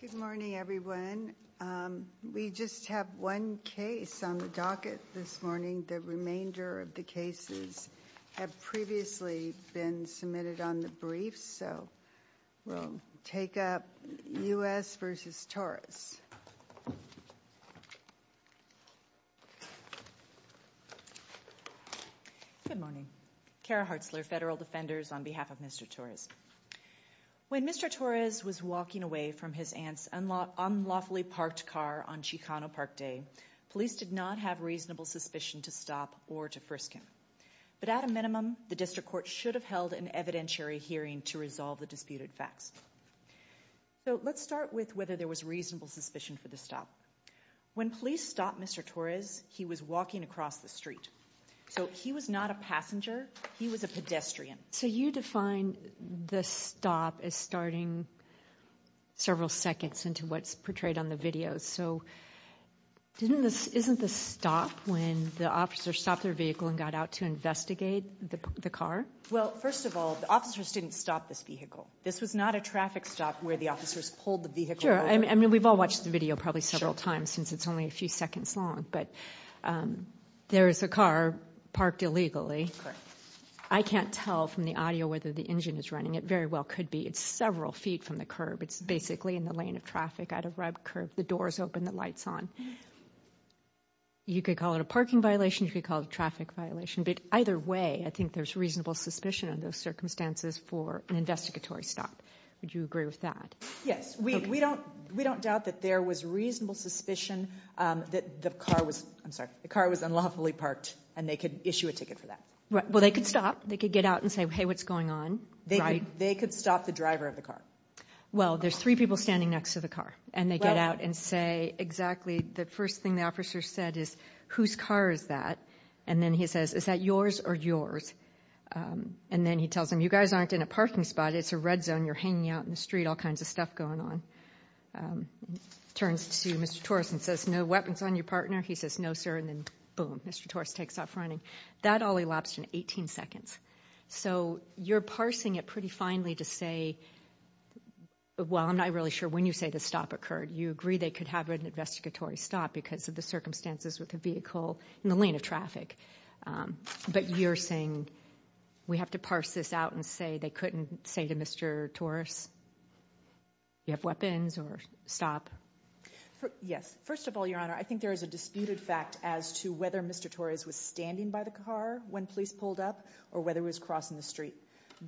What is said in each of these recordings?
Good morning, everyone. We just have one case on the docket this morning. The remainder of the cases have previously been submitted on the briefs, so we'll take up U.S. v. Torres. Good morning. Kara Hartzler, Federal Defenders, on behalf of Mr. Torres. When Mr. Torres was walking away from his aunt's unlawfully parked car on Chicano Park Day, police did not have reasonable suspicion to stop or to frisk him. But at a minimum, the district court should have held an evidentiary hearing to resolve the disputed facts. So let's start with whether there was reasonable suspicion for the stop. When police stopped Mr. Torres, he was walking across the street. So he was not a passenger. He was a pedestrian. So you define the stop as starting several seconds into what's portrayed on the video. So isn't the stop when the officer stopped their vehicle and got out to investigate the car? Well, first of all, the officers didn't stop this vehicle. This was not a traffic stop where the officers pulled the vehicle over. Sure. I mean, we've all watched the video probably several times since it's only a few seconds long. But there is a car parked illegally. I can't tell from the audio whether the engine is running. It very well could be. It's several feet from the curb. It's basically in the lane of traffic at a red curb. The door is open. The light's on. You could call it a parking violation. You could call it a traffic violation. But either way, I think there's reasonable suspicion in those circumstances for an investigatory stop. Would we don't doubt that there was reasonable suspicion that the car was unlawfully parked and they could issue a ticket for that? Well, they could stop. They could get out and say, hey, what's going on? They could stop the driver of the car. Well, there's three people standing next to the car. And they get out and say exactly the first thing the officer said is, whose car is that? And then he says, is that yours or yours? And then he tells them, you guys aren't in a parking spot. It's a red zone. You're hanging out in the street, all kinds of stuff going on. Turns to Mr. Torres and says, no weapons on your partner? He says, no, sir. And then, boom, Mr. Torres takes off running. That all elapsed in 18 seconds. So you're parsing it pretty finely to say, well, I'm not really sure when you say the stop occurred. You agree they could have an investigatory stop because of the circumstances with the vehicle in the lane of traffic. But you're saying, we have to parse this out and say they couldn't say to Mr. Torres, you have weapons or stop? Yes. First of all, Your Honor, I think there is a disputed fact as to whether Mr. Torres was standing by the car when police pulled up or whether he was crossing the street.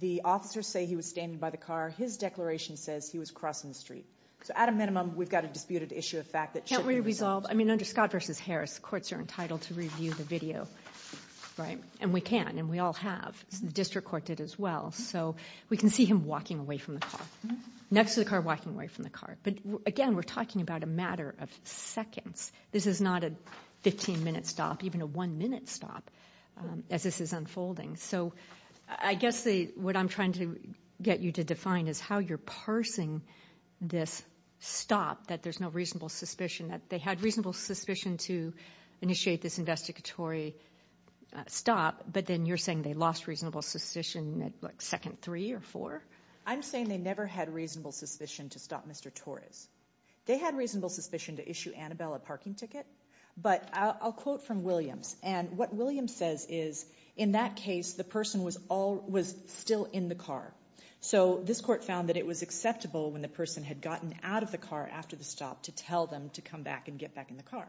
The officers say he was standing by the car. His declaration says he was crossing the street. So at a minimum, we've got a disputed issue of fact that shouldn't be resolved. Can't we resolve? I mean, under Scott v. Harris, courts are entitled to review the video, right? And we can, and we all have. The district court did as well. So we can see him walking away from the car, next to the car, walking away from the car. But again, we're talking about a matter of seconds. This is not a 15-minute stop, even a one-minute stop, as this is unfolding. So I guess what I'm trying to get you to define is how you're parsing this stop, that there's no reasonable suspicion, that they had reasonable suspicion to initiate this investigatory stop. But then you're saying they lost reasonable suspicion at, like, second three or four? I'm saying they never had reasonable suspicion to stop Mr. Torres. They had reasonable suspicion to issue Annabelle a parking ticket. But I'll quote from Williams. And what Williams says is, in that case, the person was still in the car. So this court found that it was acceptable when the person had gotten out of the car after the stop to tell them to come back and get back in the car.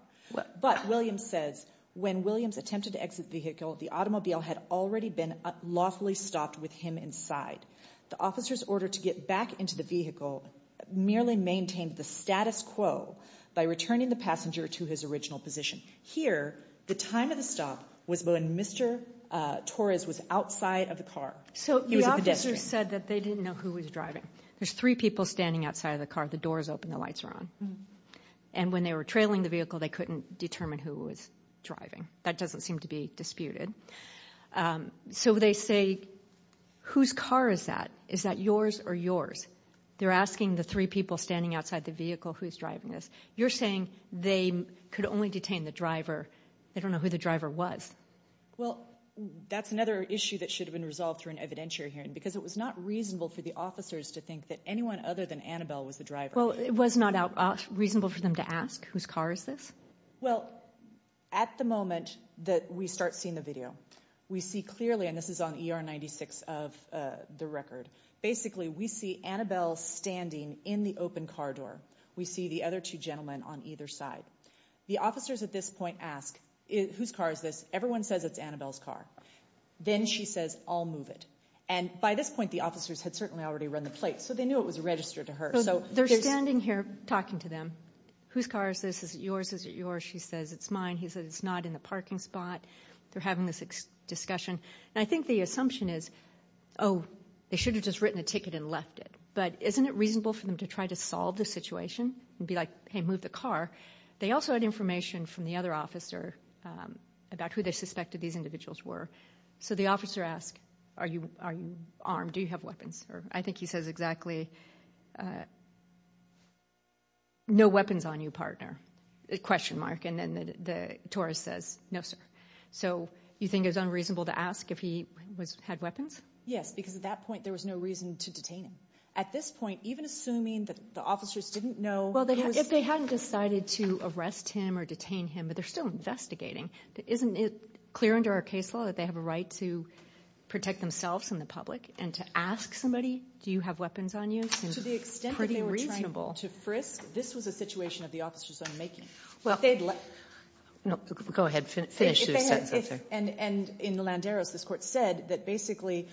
But, Williams says, when Williams attempted to exit the vehicle, the automobile had already been lawfully stopped with him inside. The officer's order to get back into the vehicle merely maintained the status quo by returning the passenger to his original position. Here, the time of the stop was when Mr. Torres was outside of the car. So the officer said that they didn't know who was driving. There's three people standing outside the car. The doors opened. The lights were on. And when they were trailing the vehicle, they couldn't determine who was driving. That doesn't seem to be disputed. So they say, whose car is that? Is that yours or yours? They're asking the three people standing outside the vehicle, who's driving this? You're saying they could only detain the driver. They don't know who the driver was. Well, that's another issue that should have been resolved through an evidentiary hearing, because it was not reasonable for the officers to think that anyone other than Annabelle was the driver. Well, it was not reasonable for them to ask, whose car is this? Well, at the moment that we start seeing the video, we see clearly, and this is on ER 96 of the record, basically, we see Annabelle standing in the open car door. We see the other two gentlemen on either side. The officers at this point ask, whose car is this? Everyone says it's Annabelle's car. Then she says, I'll move it. And by this point, the officers had certainly already run the plate. So they knew it was registered to her. So they're standing here talking to them. Whose car is this? Is it yours? Is it yours? She says, it's mine. He says, it's not in the parking spot. They're having this discussion. And I think the assumption is, oh, they should have just written a ticket and left it. But isn't it reasonable for them to try to solve the situation and be like, hey, move the car? They also had information from the other officer about who they suspected these individuals were. So the officer asks, are you armed? Do you have weapons? I think he says exactly, no weapons on you, partner, question mark. And then the tourist says, no, sir. So you think it's unreasonable to ask if he had weapons? Yes, because at that point, there was no reason to detain him. At this point, even assuming that the officers didn't know. Well, if they hadn't decided to arrest him or detain him, but they're still investigating, isn't it clear under our case law that they have a right to protect themselves and the public? And to ask somebody, do you have weapons on you, seems pretty reasonable. To the extent that they were trying to frisk, this was a situation of the officer's own making. If they had, and in the Landeros, this court said that basically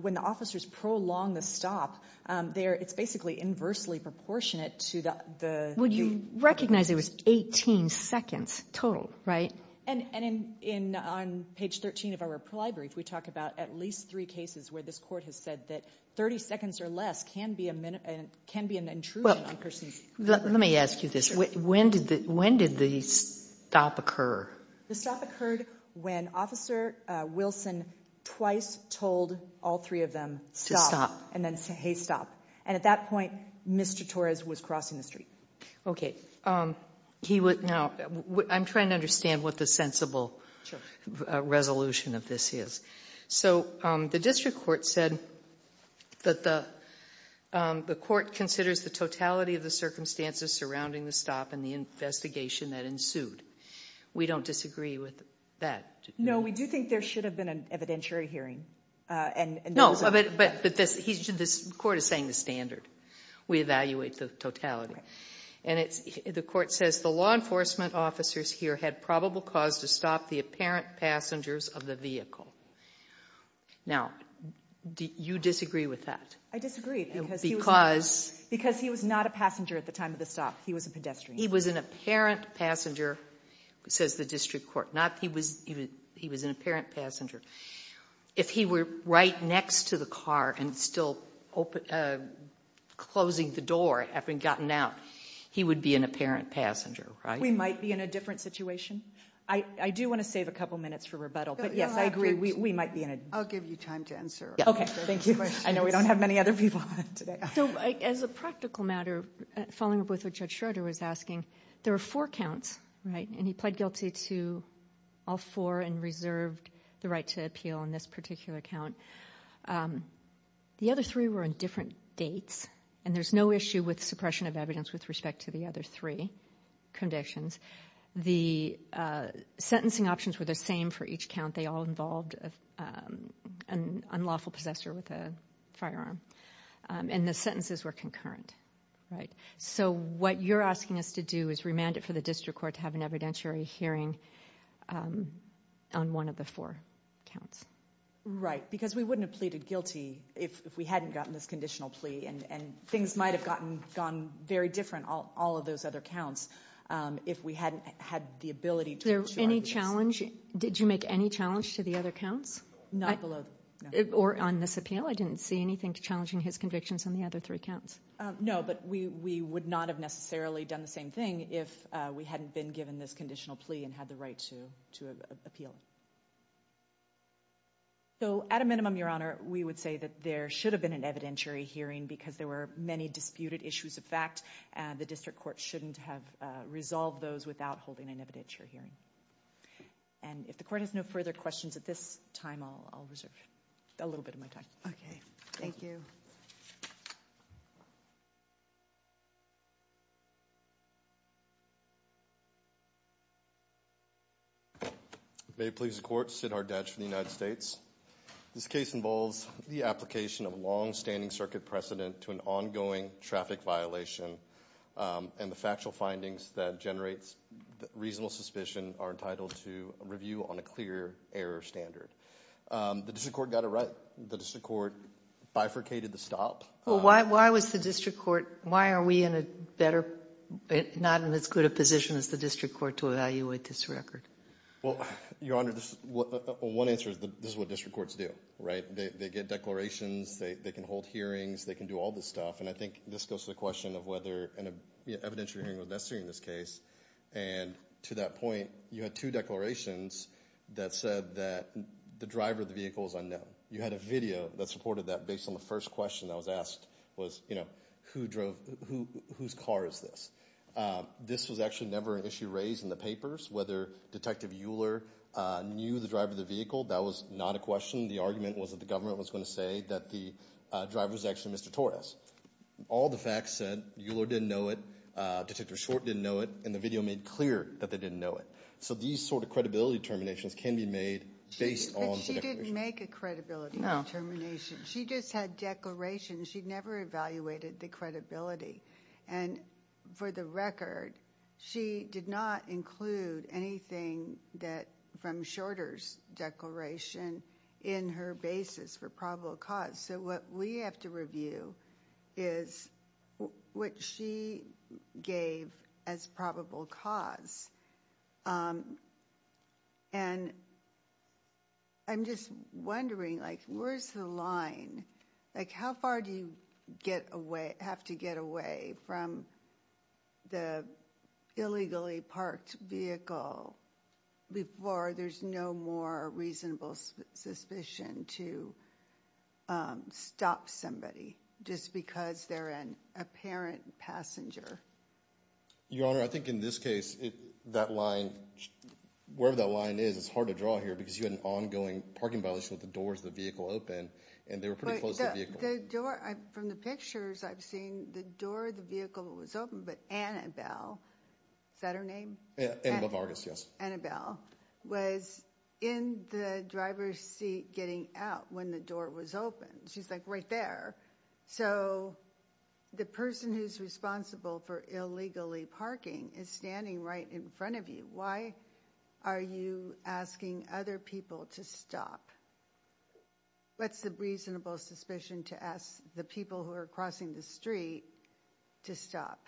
when the officers prolong the stop, it's basically inversely proportionate to the... Well, you recognize it was 18 seconds total, right? And on page 13 of our brief, we talk about at least three cases where this court has said that 30 seconds or less can be an intrusion on a person's... Let me ask you this. When did the stop occur? The stop occurred when Officer Wilson twice told all three of them to stop and then say, hey, stop. And at that point, Mr. Torres was crossing the street. Okay. Now, I'm trying to understand what the sensible resolution of this is. So the district court said that the court considers the totality of the circumstances surrounding the stop and the investigation that ensued. We don't disagree with that. No, we do think there should have been an evidentiary hearing. No, but this court is saying the standard. We evaluate the totality. The court says the law enforcement officers here had probable cause to stop the apparent passengers of the vehicle. Now, you disagree with that? I disagree because he was not a passenger at the time of the stop. He was a pedestrian. He was an apparent passenger, says the district court, not he was an apparent passenger. If he were right next to the car and still open, closing the door having gotten out, he would be an apparent passenger, right? We might be in a different situation. I do want to save a couple minutes for rebuttal, but yes, I agree. We might be in a... I'll give you time to answer. Okay. Thank you. I know we don't have many other people today. So as a practical matter, following up with what Judge Schroeder was asking, there were four counts, right? And he pled guilty to all four and reserved the right to appeal in this particular count. The other three were on different dates, and there's no issue with suppression of evidence with respect to the other three conditions. The sentencing options were the same for each count. They all involved an unlawful possessor with a firearm, and the sentences were concurrent, right? So what you're asking us to do is remand it for the district court to have an evidentiary hearing on one of the four counts. Right, because we wouldn't have pleaded guilty if we hadn't gotten this conditional plea, and things might have gone very different, all of those other counts, if we hadn't had the ability to... Was there any challenge? Did you make any challenge to the other counts? Not below... Or on this appeal? I didn't see anything challenging his convictions on the other three counts. No, but we would not have necessarily done the same thing if we hadn't been given this conditional plea and had the right to appeal. So at a minimum, Your Honor, we would say that there should have been an evidentiary hearing because there were many disputed issues of fact, and the district court shouldn't have resolved those without holding an evidentiary hearing. And if the court has no further questions at this time, I'll reserve a little bit of my time. Okay, thank you. May it please the court, Siddharth Dutch from the United States. This case involves the application of long-standing circuit precedent to an ongoing traffic violation, and the factual findings that generates reasonable suspicion are entitled to review on a clear error standard. The district court got it right. The district court bifurcated the stop. Why was the district court... Why are we in a better... Not in as good a position as the district court to evaluate this record? Well, Your Honor, one answer is this is what district courts do, right? They get declarations, they can hold hearings, they can do all this stuff. And I think this goes to the question of whether an evidentiary hearing was necessary in this case. And to that point, you had two declarations that said that the driver of the vehicle was unknown. You had a video that supported that based on the first question that was asked was, you know, whose car is this? This was actually never an issue raised in the papers, whether Detective Euler knew the driver of the vehicle, that was not a question. The argument was that the government was going to say that the driver was actually Mr. Torres. All the facts said Euler didn't know it, Detective Short didn't know it, and the video made clear that they didn't know it. So these sort of credibility determinations can be made based on... But she didn't make a credibility determination. She just had declarations, she never evaluated the credibility. And for the record, she did not include anything from Shorter's declaration in her basis for probable cause. So what we have to review is what she gave as probable cause. And I'm just wondering, like, where's the line? Like, how far do you have to get away from the illegally parked vehicle before there's no more reasonable suspicion to stop somebody just because they're an apparent passenger? Your Honor, I think in this case, that line, wherever that line is, it's hard to draw here because you had an ongoing parking violation with the doors of the vehicle open, and they were pretty close to the vehicle. The door, from the pictures I've seen, the door of the vehicle was open, but Annabelle, is that her name? Annabelle Vargas, yes. Annabelle was in the driver's seat getting out when the door was open. She's, like, right there. So the person who's responsible for illegally parking is standing right in front of you. Why are you asking other people to stop? What's the reasonable suspicion to ask the people who are crossing the street to stop?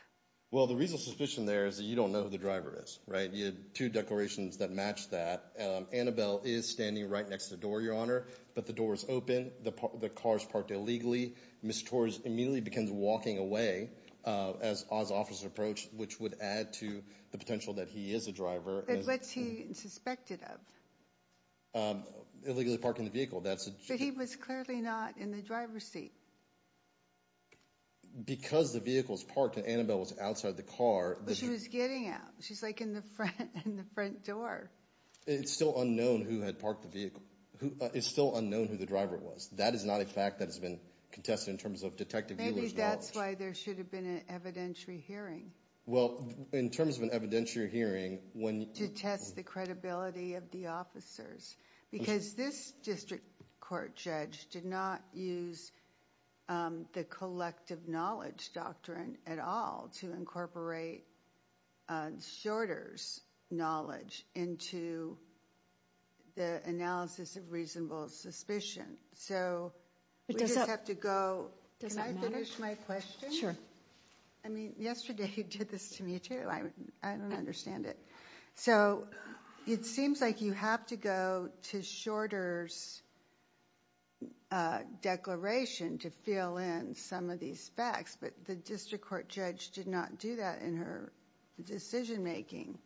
Well, the reasonable suspicion there is that you don't know who the driver is, right? You had two declarations that matched that. Annabelle is standing right next to the door, Your Honor, but the door is open. The car is parked illegally. Mr. Torres immediately begins walking away, as Oz Officer approached, which would add to the potential that he is a driver. But what's he suspected of? Illegally parking the vehicle, but he was clearly not in the driver's seat. Because the vehicle is parked and Annabelle was outside the car. She was getting out. She's, like, in the front door. It's still unknown who had parked the vehicle. It's still unknown who the driver was. That is not a fact that has been contested in terms of Detective Mueller's knowledge. Maybe that's why there should have been an evidentiary hearing. Well, in terms of an evidentiary hearing, to test the credibility of the officers, because this district court judge did not use the collective knowledge doctrine at all to incorporate Shorter's knowledge into the analysis of reasonable suspicion, so we just have to go. Can I finish my question? Sure. I mean, yesterday you did this to me, too. I don't understand it. So, it seems like you have to go to Shorter's declaration to fill in some of these facts, but the district court judge did not do that in her decision making.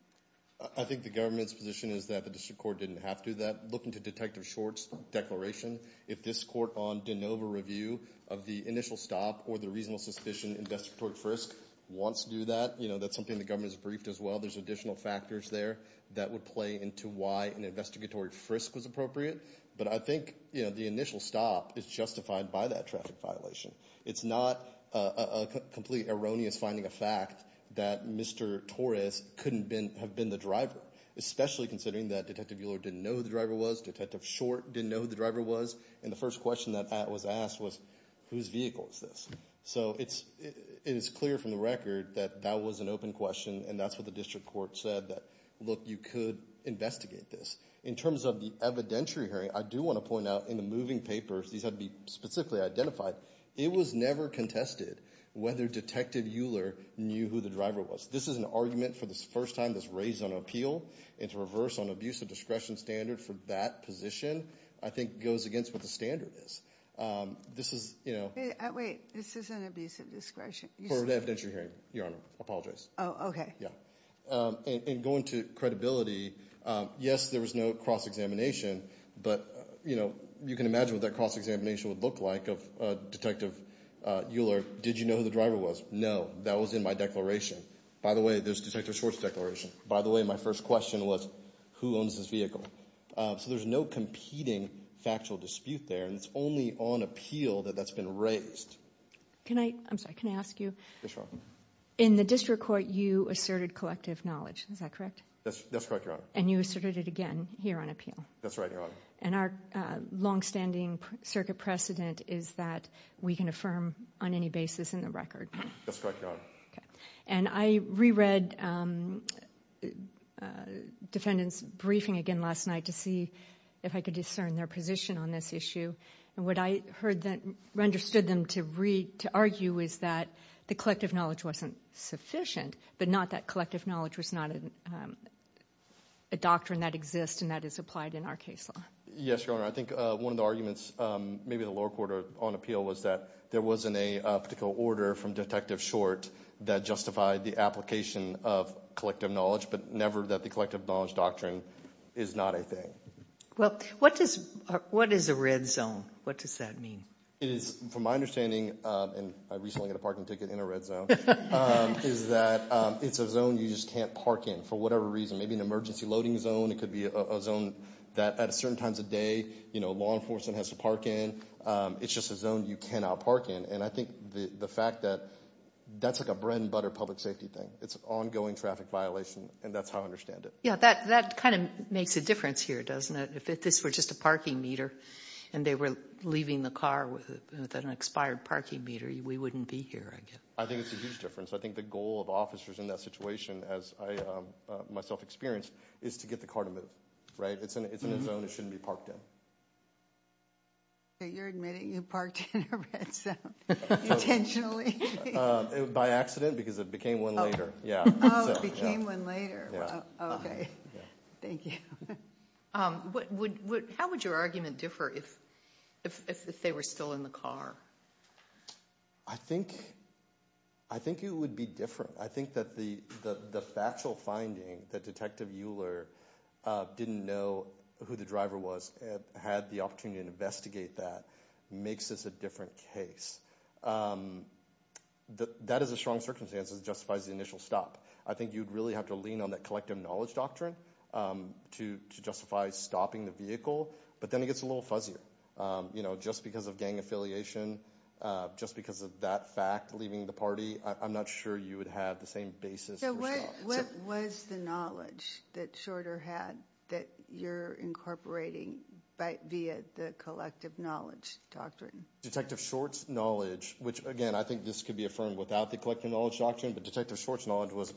I think the government's position is that the district court didn't have to do that. Looking to Detective Shorter's declaration, if this court on de novo review of the initial stop or the reasonable suspicion investigatory frisk wants to do that, you know, that's something the that would play into why an investigatory frisk was appropriate, but I think, you know, the initial stop is justified by that traffic violation. It's not a complete erroneous finding a fact that Mr. Torres couldn't have been the driver, especially considering that Detective Mueller didn't know who the driver was, Detective Short didn't know who the driver was, and the first question that was asked was, whose vehicle is this? So, it is clear from the record that that was an open question, and that's what the district court said, that, look, you could investigate this. In terms of the evidentiary hearing, I do want to point out in the moving papers, these had to be specifically identified, it was never contested whether Detective Mueller knew who the driver was. This is an argument for the first time that's raised on appeal, and to reverse on abusive discretion standard for that position, I think, goes against what the standard is. This is, you know... Wait, this isn't abusive discretion. For the evidentiary hearing, Your Honor, I apologize. Oh, okay. Yeah. And going to credibility, yes, there was no cross-examination, but, you know, you can imagine what that cross-examination would look like of Detective Mueller. Did you know who the driver was? No. That was in my declaration. By the way, there's Detective Short's declaration. By the way, my first question was, who owns this vehicle? So, there's no competing factual dispute there, and it's only on appeal that that's been raised. Can I... I'm sorry, can I ask you? Yes, Your Honor. In the District Court, you asserted collective knowledge, is that correct? That's correct, Your Honor. And you asserted it again here on appeal? That's right, Your Honor. And our long-standing circuit precedent is that we can affirm on any basis in the record? That's correct, Your Honor. Okay. And I re-read defendants' briefing again last night to see if I could discern their position on this issue, and what I heard them, understood them to read, to argue is that the collective knowledge wasn't sufficient, but not that collective knowledge was not a doctrine that exists and that is applied in our case law. Yes, Your Honor. I think one of the arguments, maybe the lower court on appeal, was that there wasn't a particular order from Detective Short that justified the application of collective knowledge, but never that the collective knowledge doctrine is not a thing. Well, what is a red zone? What does that mean? It is, from my understanding, and I recently got a parking ticket in a red zone, is that it's a zone you just can't park in for whatever reason, maybe an emergency loading zone. It could be a zone that at certain times of day, you know, law enforcement has to park in. It's just a zone you cannot park in, and I think the fact that that's like a bread and butter public safety thing. It's an ongoing traffic violation, and that's how I understand it. Yeah, that kind of makes a difference here, doesn't it? If this were just a parking meter and they were leaving the car with an expired parking meter, we wouldn't be here, I guess. I think it's a huge difference. I think the goal of officers in that situation, as I myself experienced, is to get the car to move, right? It's in a zone it shouldn't be parked in. You're admitting you parked in a red zone intentionally? By accident, because it became one later. Yeah, it became one later. Okay, thank you. How would your argument differ if they were still in the car? I think it would be different. I think that the factual finding that Detective Euler didn't know who the driver was, had the opportunity to investigate that, makes this a different case. That is a strong circumstance. It justifies the initial stop. I think you'd really have to lean on that collective knowledge doctrine to justify stopping the vehicle, but then it gets a little fuzzier. You know, just because of gang affiliation, just because of that fact, leaving the party, I'm not sure you would have the same basis. What was the knowledge that Shorter had that you're incorporating via the collective knowledge doctrine? Detective Short's knowledge, which again, I think this could be affirmed without the collective knowledge doctrine, but Detective Short's knowledge was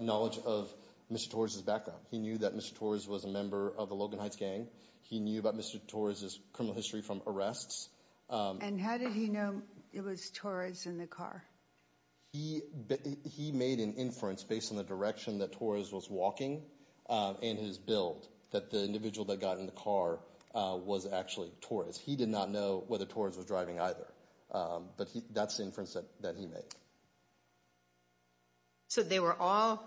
knowledge of Mr. Torres's background. He knew that Mr. Torres was a member of the Logan Heights gang. He knew about Mr. Torres's criminal history from arrests. And how did he know it was Torres in the car? He made an inference based on the direction that Torres was walking and his build, that the individual that got in the car was actually Torres. He did not know whether Torres was driving either, but that's the inference that he made. So they were all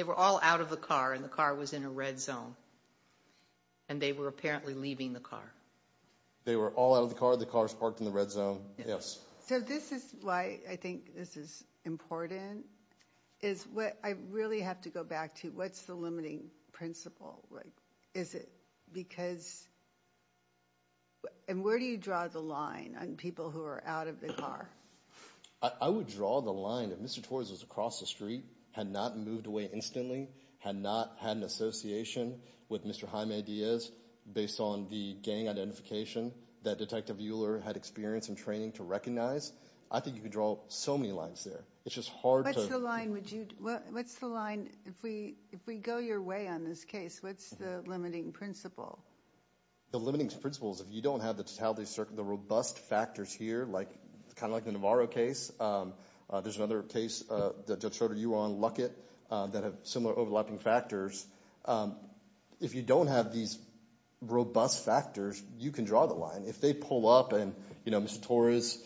out of the car and the car was in a red zone, and they were apparently leaving the car. They were all out of the car, the car was parked in the red zone, yes. So this is why I think this is important, is what I really have to go back to, what's the limiting principle? Is it because, and where do you draw the line on people who are out of the car? I would draw the line if Mr. Torres was across the street, had not moved away instantly, had not had an association with Mr. Jaime Diaz based on the gang identification that Detective Euler had experience and training to recognize. I think you could draw so many lines there. It's just hard. What's the line, if we go your way on this case, what's the limiting principle? The limiting principle is if you don't have the robust factors here, kind of like the Navarro case. There's another case that Judge Schroeder, you were on, Luckett, that have similar overlapping factors. If you don't have these robust factors, you can draw the line. If they pull up and Mr. Torres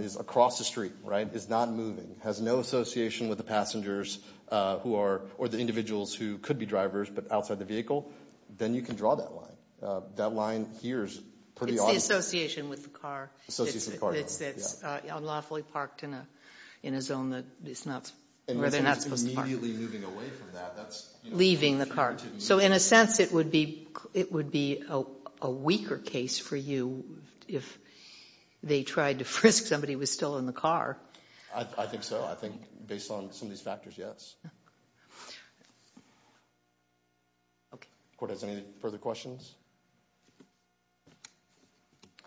is across the street, right, is not moving, has no association with the passengers who are, or the individuals who could be drivers, but outside the vehicle, then you can draw that line. That line here is pretty obvious. It's the association with the car. It's unlawfully parked in a zone that it's not, where they're not supposed to park. Immediately moving away from that. Leaving the car. So in a sense it would be a weaker case for you if they tried to frisk somebody who was still in the car. I think so. I think based on some of these factors, yes. Okay. Court has any further questions?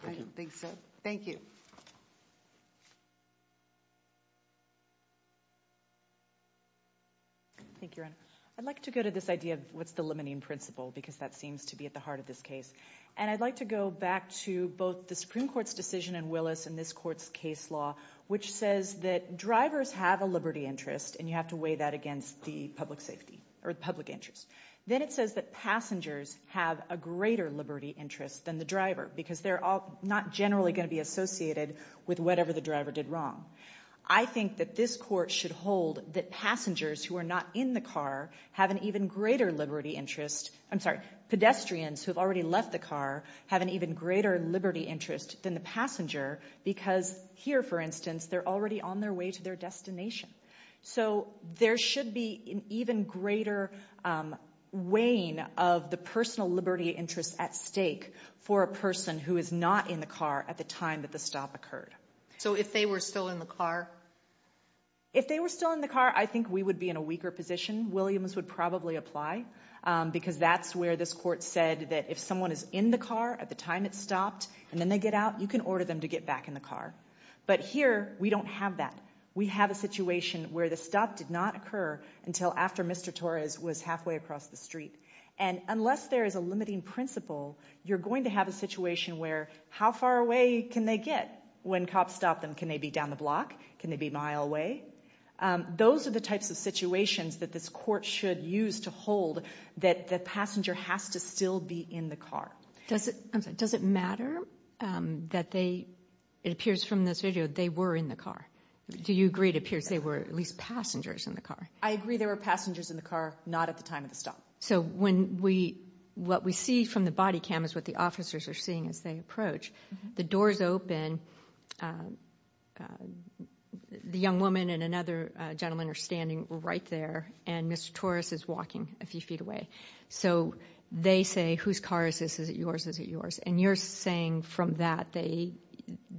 I don't think so. Thank you. Thank you, Your Honor. I'd like to go to this idea of what's the limiting principle, because that seems to be at the heart of this case. And I'd like to go back to both the Supreme Court's decision in Willis and this court's case law, which says that drivers have a liberty interest, and you have to weigh that against the public safety, or the public interest. Then it says that passengers have a greater liberty interest than the driver, because they're all not generally going to be associated with whatever the driver did wrong. I think that this court should hold that passengers who are not in the car have an even greater liberty interest. I'm sorry, pedestrians who have already left the car have an even greater liberty interest than the passenger, because here, for instance, they're already on their way to their destination. So there should be an even greater weighing of the personal liberty interest at stake for a person who is not in the car at the time that the stop occurred. So if they were still in the car? If they were still in the car, I think we would be in a weaker position. Williams would probably apply, because that's where this court said that if someone is in the car at the time it stopped, and then they get out, you can order them to get back in the car. But here, we don't have that. We have a situation where the stop did not occur until after Mr. Torres was halfway across the street. And unless there is a limiting principle, you're going to have a situation where, how far away can they get when cops stop them? Can they be down the block? Can they be a mile away? Those are the types of situations that this court should use to hold that the passenger has to still be in the car. Does it matter that they, it appears from this video, they were in the car? Do you agree it appears they were at least passengers in the car? I agree there were passengers in the car, not at the time of the stop. So when we, what we see from the body cam is what the officers are seeing as they approach. The doors open, the young woman and another gentleman are standing right there, and Mr. Torres is walking a few feet away. So they say, whose car is this? Is it yours? Is it yours? And you're saying from that, they,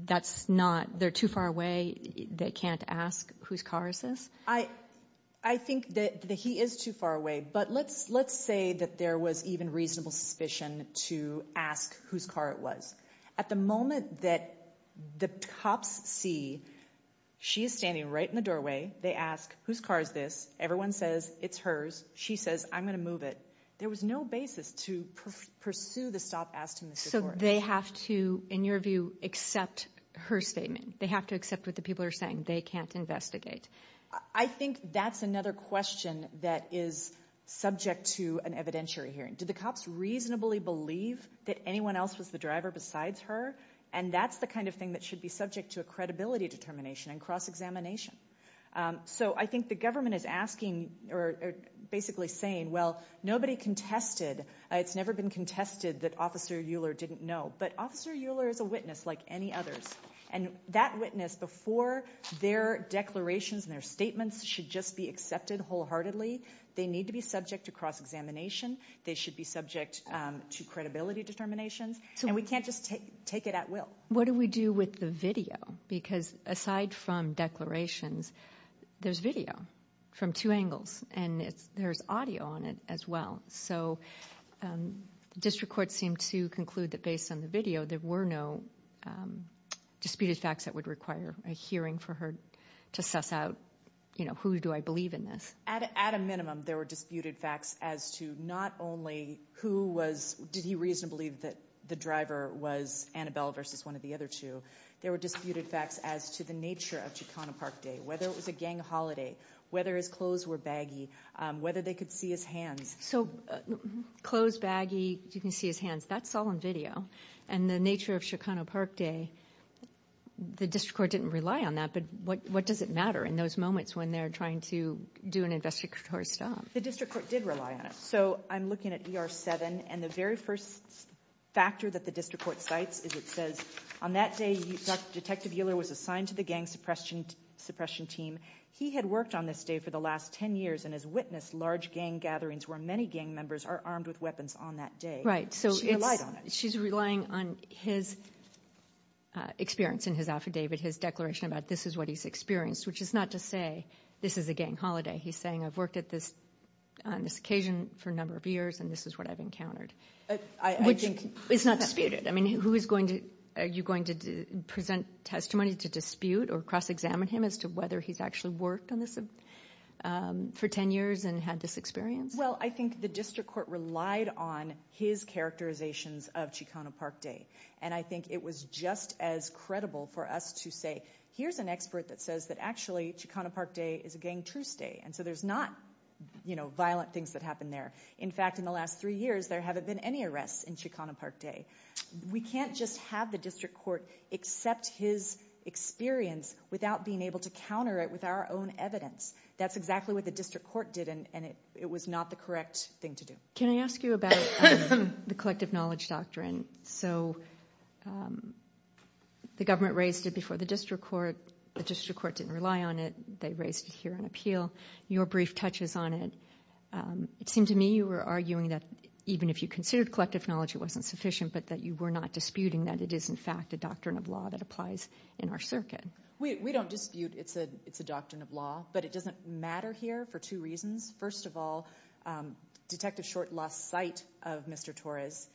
that's not, they're too far away, they can't ask whose car is this? I, I think that he is too far away, but let's, let's say that there was even reasonable suspicion to ask whose car it was. At the moment that the cops see, she is standing right in the doorway, they ask, whose car is this? Everyone says it's hers. She says, I'm going to move it. There was no basis to pursue the stop, ask to Mr. Torres. So they have to, in your view, accept her statement. They have to accept what the people are saying. They can't investigate. I think that's another question that is subject to an evidentiary hearing. Did the cops reasonably believe that anyone else was the driver besides her? And that's the kind of thing that should be subject to a credibility determination and cross-examination. So I think the government is asking or basically saying, well, nobody contested. It's never been contested that Officer Euler didn't know, but Officer Euler is a witness like any others. And that witness before their declarations and their statements should just be accepted wholeheartedly. They need to be subject to cross-examination. They should be subject to credibility determinations. And we can't just take, take it at will. What do we do with the video? Because aside from declarations, there's video from two angles, and it's, there's audio on it as well. So district courts seem to conclude that based on the video, there were no disputed facts that would require a hearing for her to suss out, you know, who do I believe in this? At a minimum, there were disputed facts as to not only who was, did he reasonably believe that the driver was Annabelle versus one of the other two? There were disputed facts as to the nature of Chicano Park Day, whether it was a gang holiday, whether his clothes were baggy, whether they could see his hands. So clothes baggy, you can see his hands, that's all in video. And the nature of Chicano Park Day, the district court didn't rely on that. But what does it matter in those moments when they're trying to do an investigatory stop? The district court did rely on it. So I'm looking at ER 7. And the very first factor that the district court cites is it says, on that day, Detective Euler was assigned to the gang suppression team. He had worked on this day for the last 10 years and has witnessed large gang gatherings where many gang members are armed with weapons on that day. She relied on it. Right. So she's relying on his experience in his affidavit, his declaration about this is what he's experienced, which is not to say this is a gang holiday. He's saying, I've worked at this on this occasion for a number of years, and this is what I've encountered. Which is not disputed. I mean, who is going to, are you going to present testimony to dispute or cross-examine him as to whether he's actually worked on this for 10 years and had this experience? Well, I think the district court relied on his characterizations of Chicano Park Day. And I think it was just as credible for us to say, here's an expert that says that actually Chicano Park Day is a gang truce day. And so there's not violent things that happen there. In fact, in the last three years, there haven't been any arrests in Chicano Park Day. We can't just have the district court accept his experience without being able to counter it with our own evidence. That's exactly what the district court did, and it was not the correct thing to do. Can I ask you about the collective knowledge doctrine? So the government raised it before the district court. The district court didn't rely on it. They raised it here on appeal. Your brief touches on it. It seemed to me you were arguing that even if you considered collective knowledge wasn't sufficient, but that you were not disputing that it is, in fact, a doctrine of law that applies in our circuit. We don't dispute it's a doctrine of law, but it doesn't matter here for two reasons. First of all, Detective Short lost sight of Mr. Torres.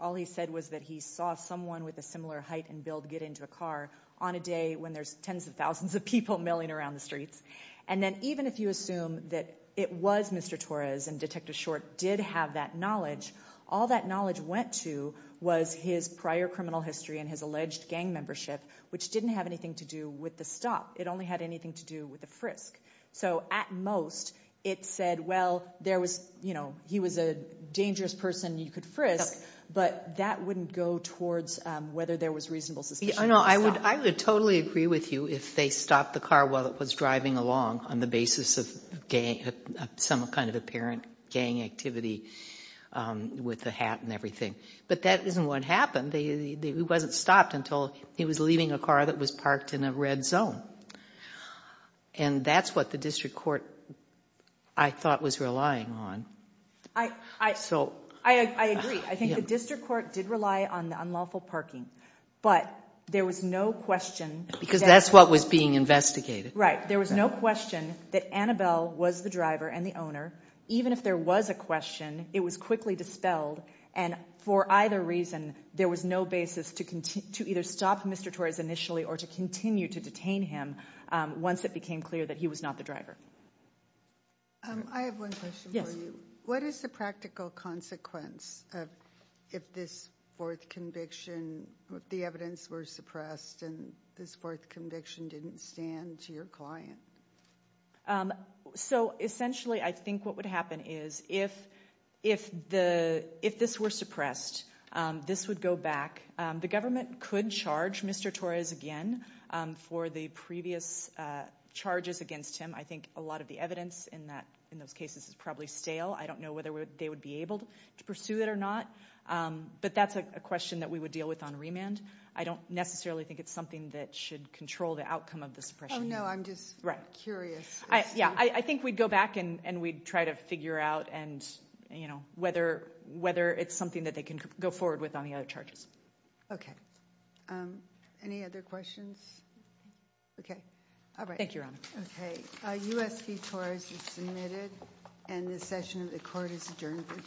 All he said was that he saw someone with a similar height and build get into a car on a day when there's tens of thousands of people milling around the streets. And then even if you assume that it was Mr. Torres and Detective Short did have that knowledge, all that knowledge went to was his prior criminal history and his alleged gang membership, which didn't have anything to do with the stop. It only had anything to do with the frisk. So at most, it said, well, there was, you know, he was a dangerous person. You could frisk, but that wouldn't go towards whether there was reasonable suspicion. No, I would totally agree with you if they stopped the car while it was driving along on the basis of some kind of apparent gang activity with the hat and everything. But that isn't what happened. He wasn't stopped until he was leaving a car that was parked in a red zone. And that's what the district court, I thought, was relying on. I agree. I think the district court did rely on the unlawful parking, but there was no question. Because that's what was being investigated. Right. There was no question that Annabelle was the driver and the owner. Even if there was a question, it was quickly dispelled. And for either reason, there was no basis to either stop Mr. Torres initially or to continue to detain him once it became clear that he was not the driver. I have one question for you. What is the practical consequence of if this fourth conviction, the evidence were suppressed and this fourth conviction didn't stand to your client? So essentially, I think what would happen is if this were suppressed, this would go back. The government could charge Mr. Torres again for the previous charges against him. I think a lot of the evidence in those cases is probably stale. I don't know whether they would be able to pursue it or not. But that's a question that we would deal with on remand. I don't necessarily think it's something that should control the outcome of the suppression. Oh, no. I'm just curious. I think we'd go back and we'd try to figure out whether it's something that they can go forward with on the other charges. Okay. Any other questions? Okay. All right. Thank you, Your Honor. Okay. U.S. v. Torres is submitted and the session of the court is adjourned for today.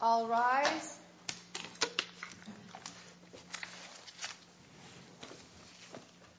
I'll rise.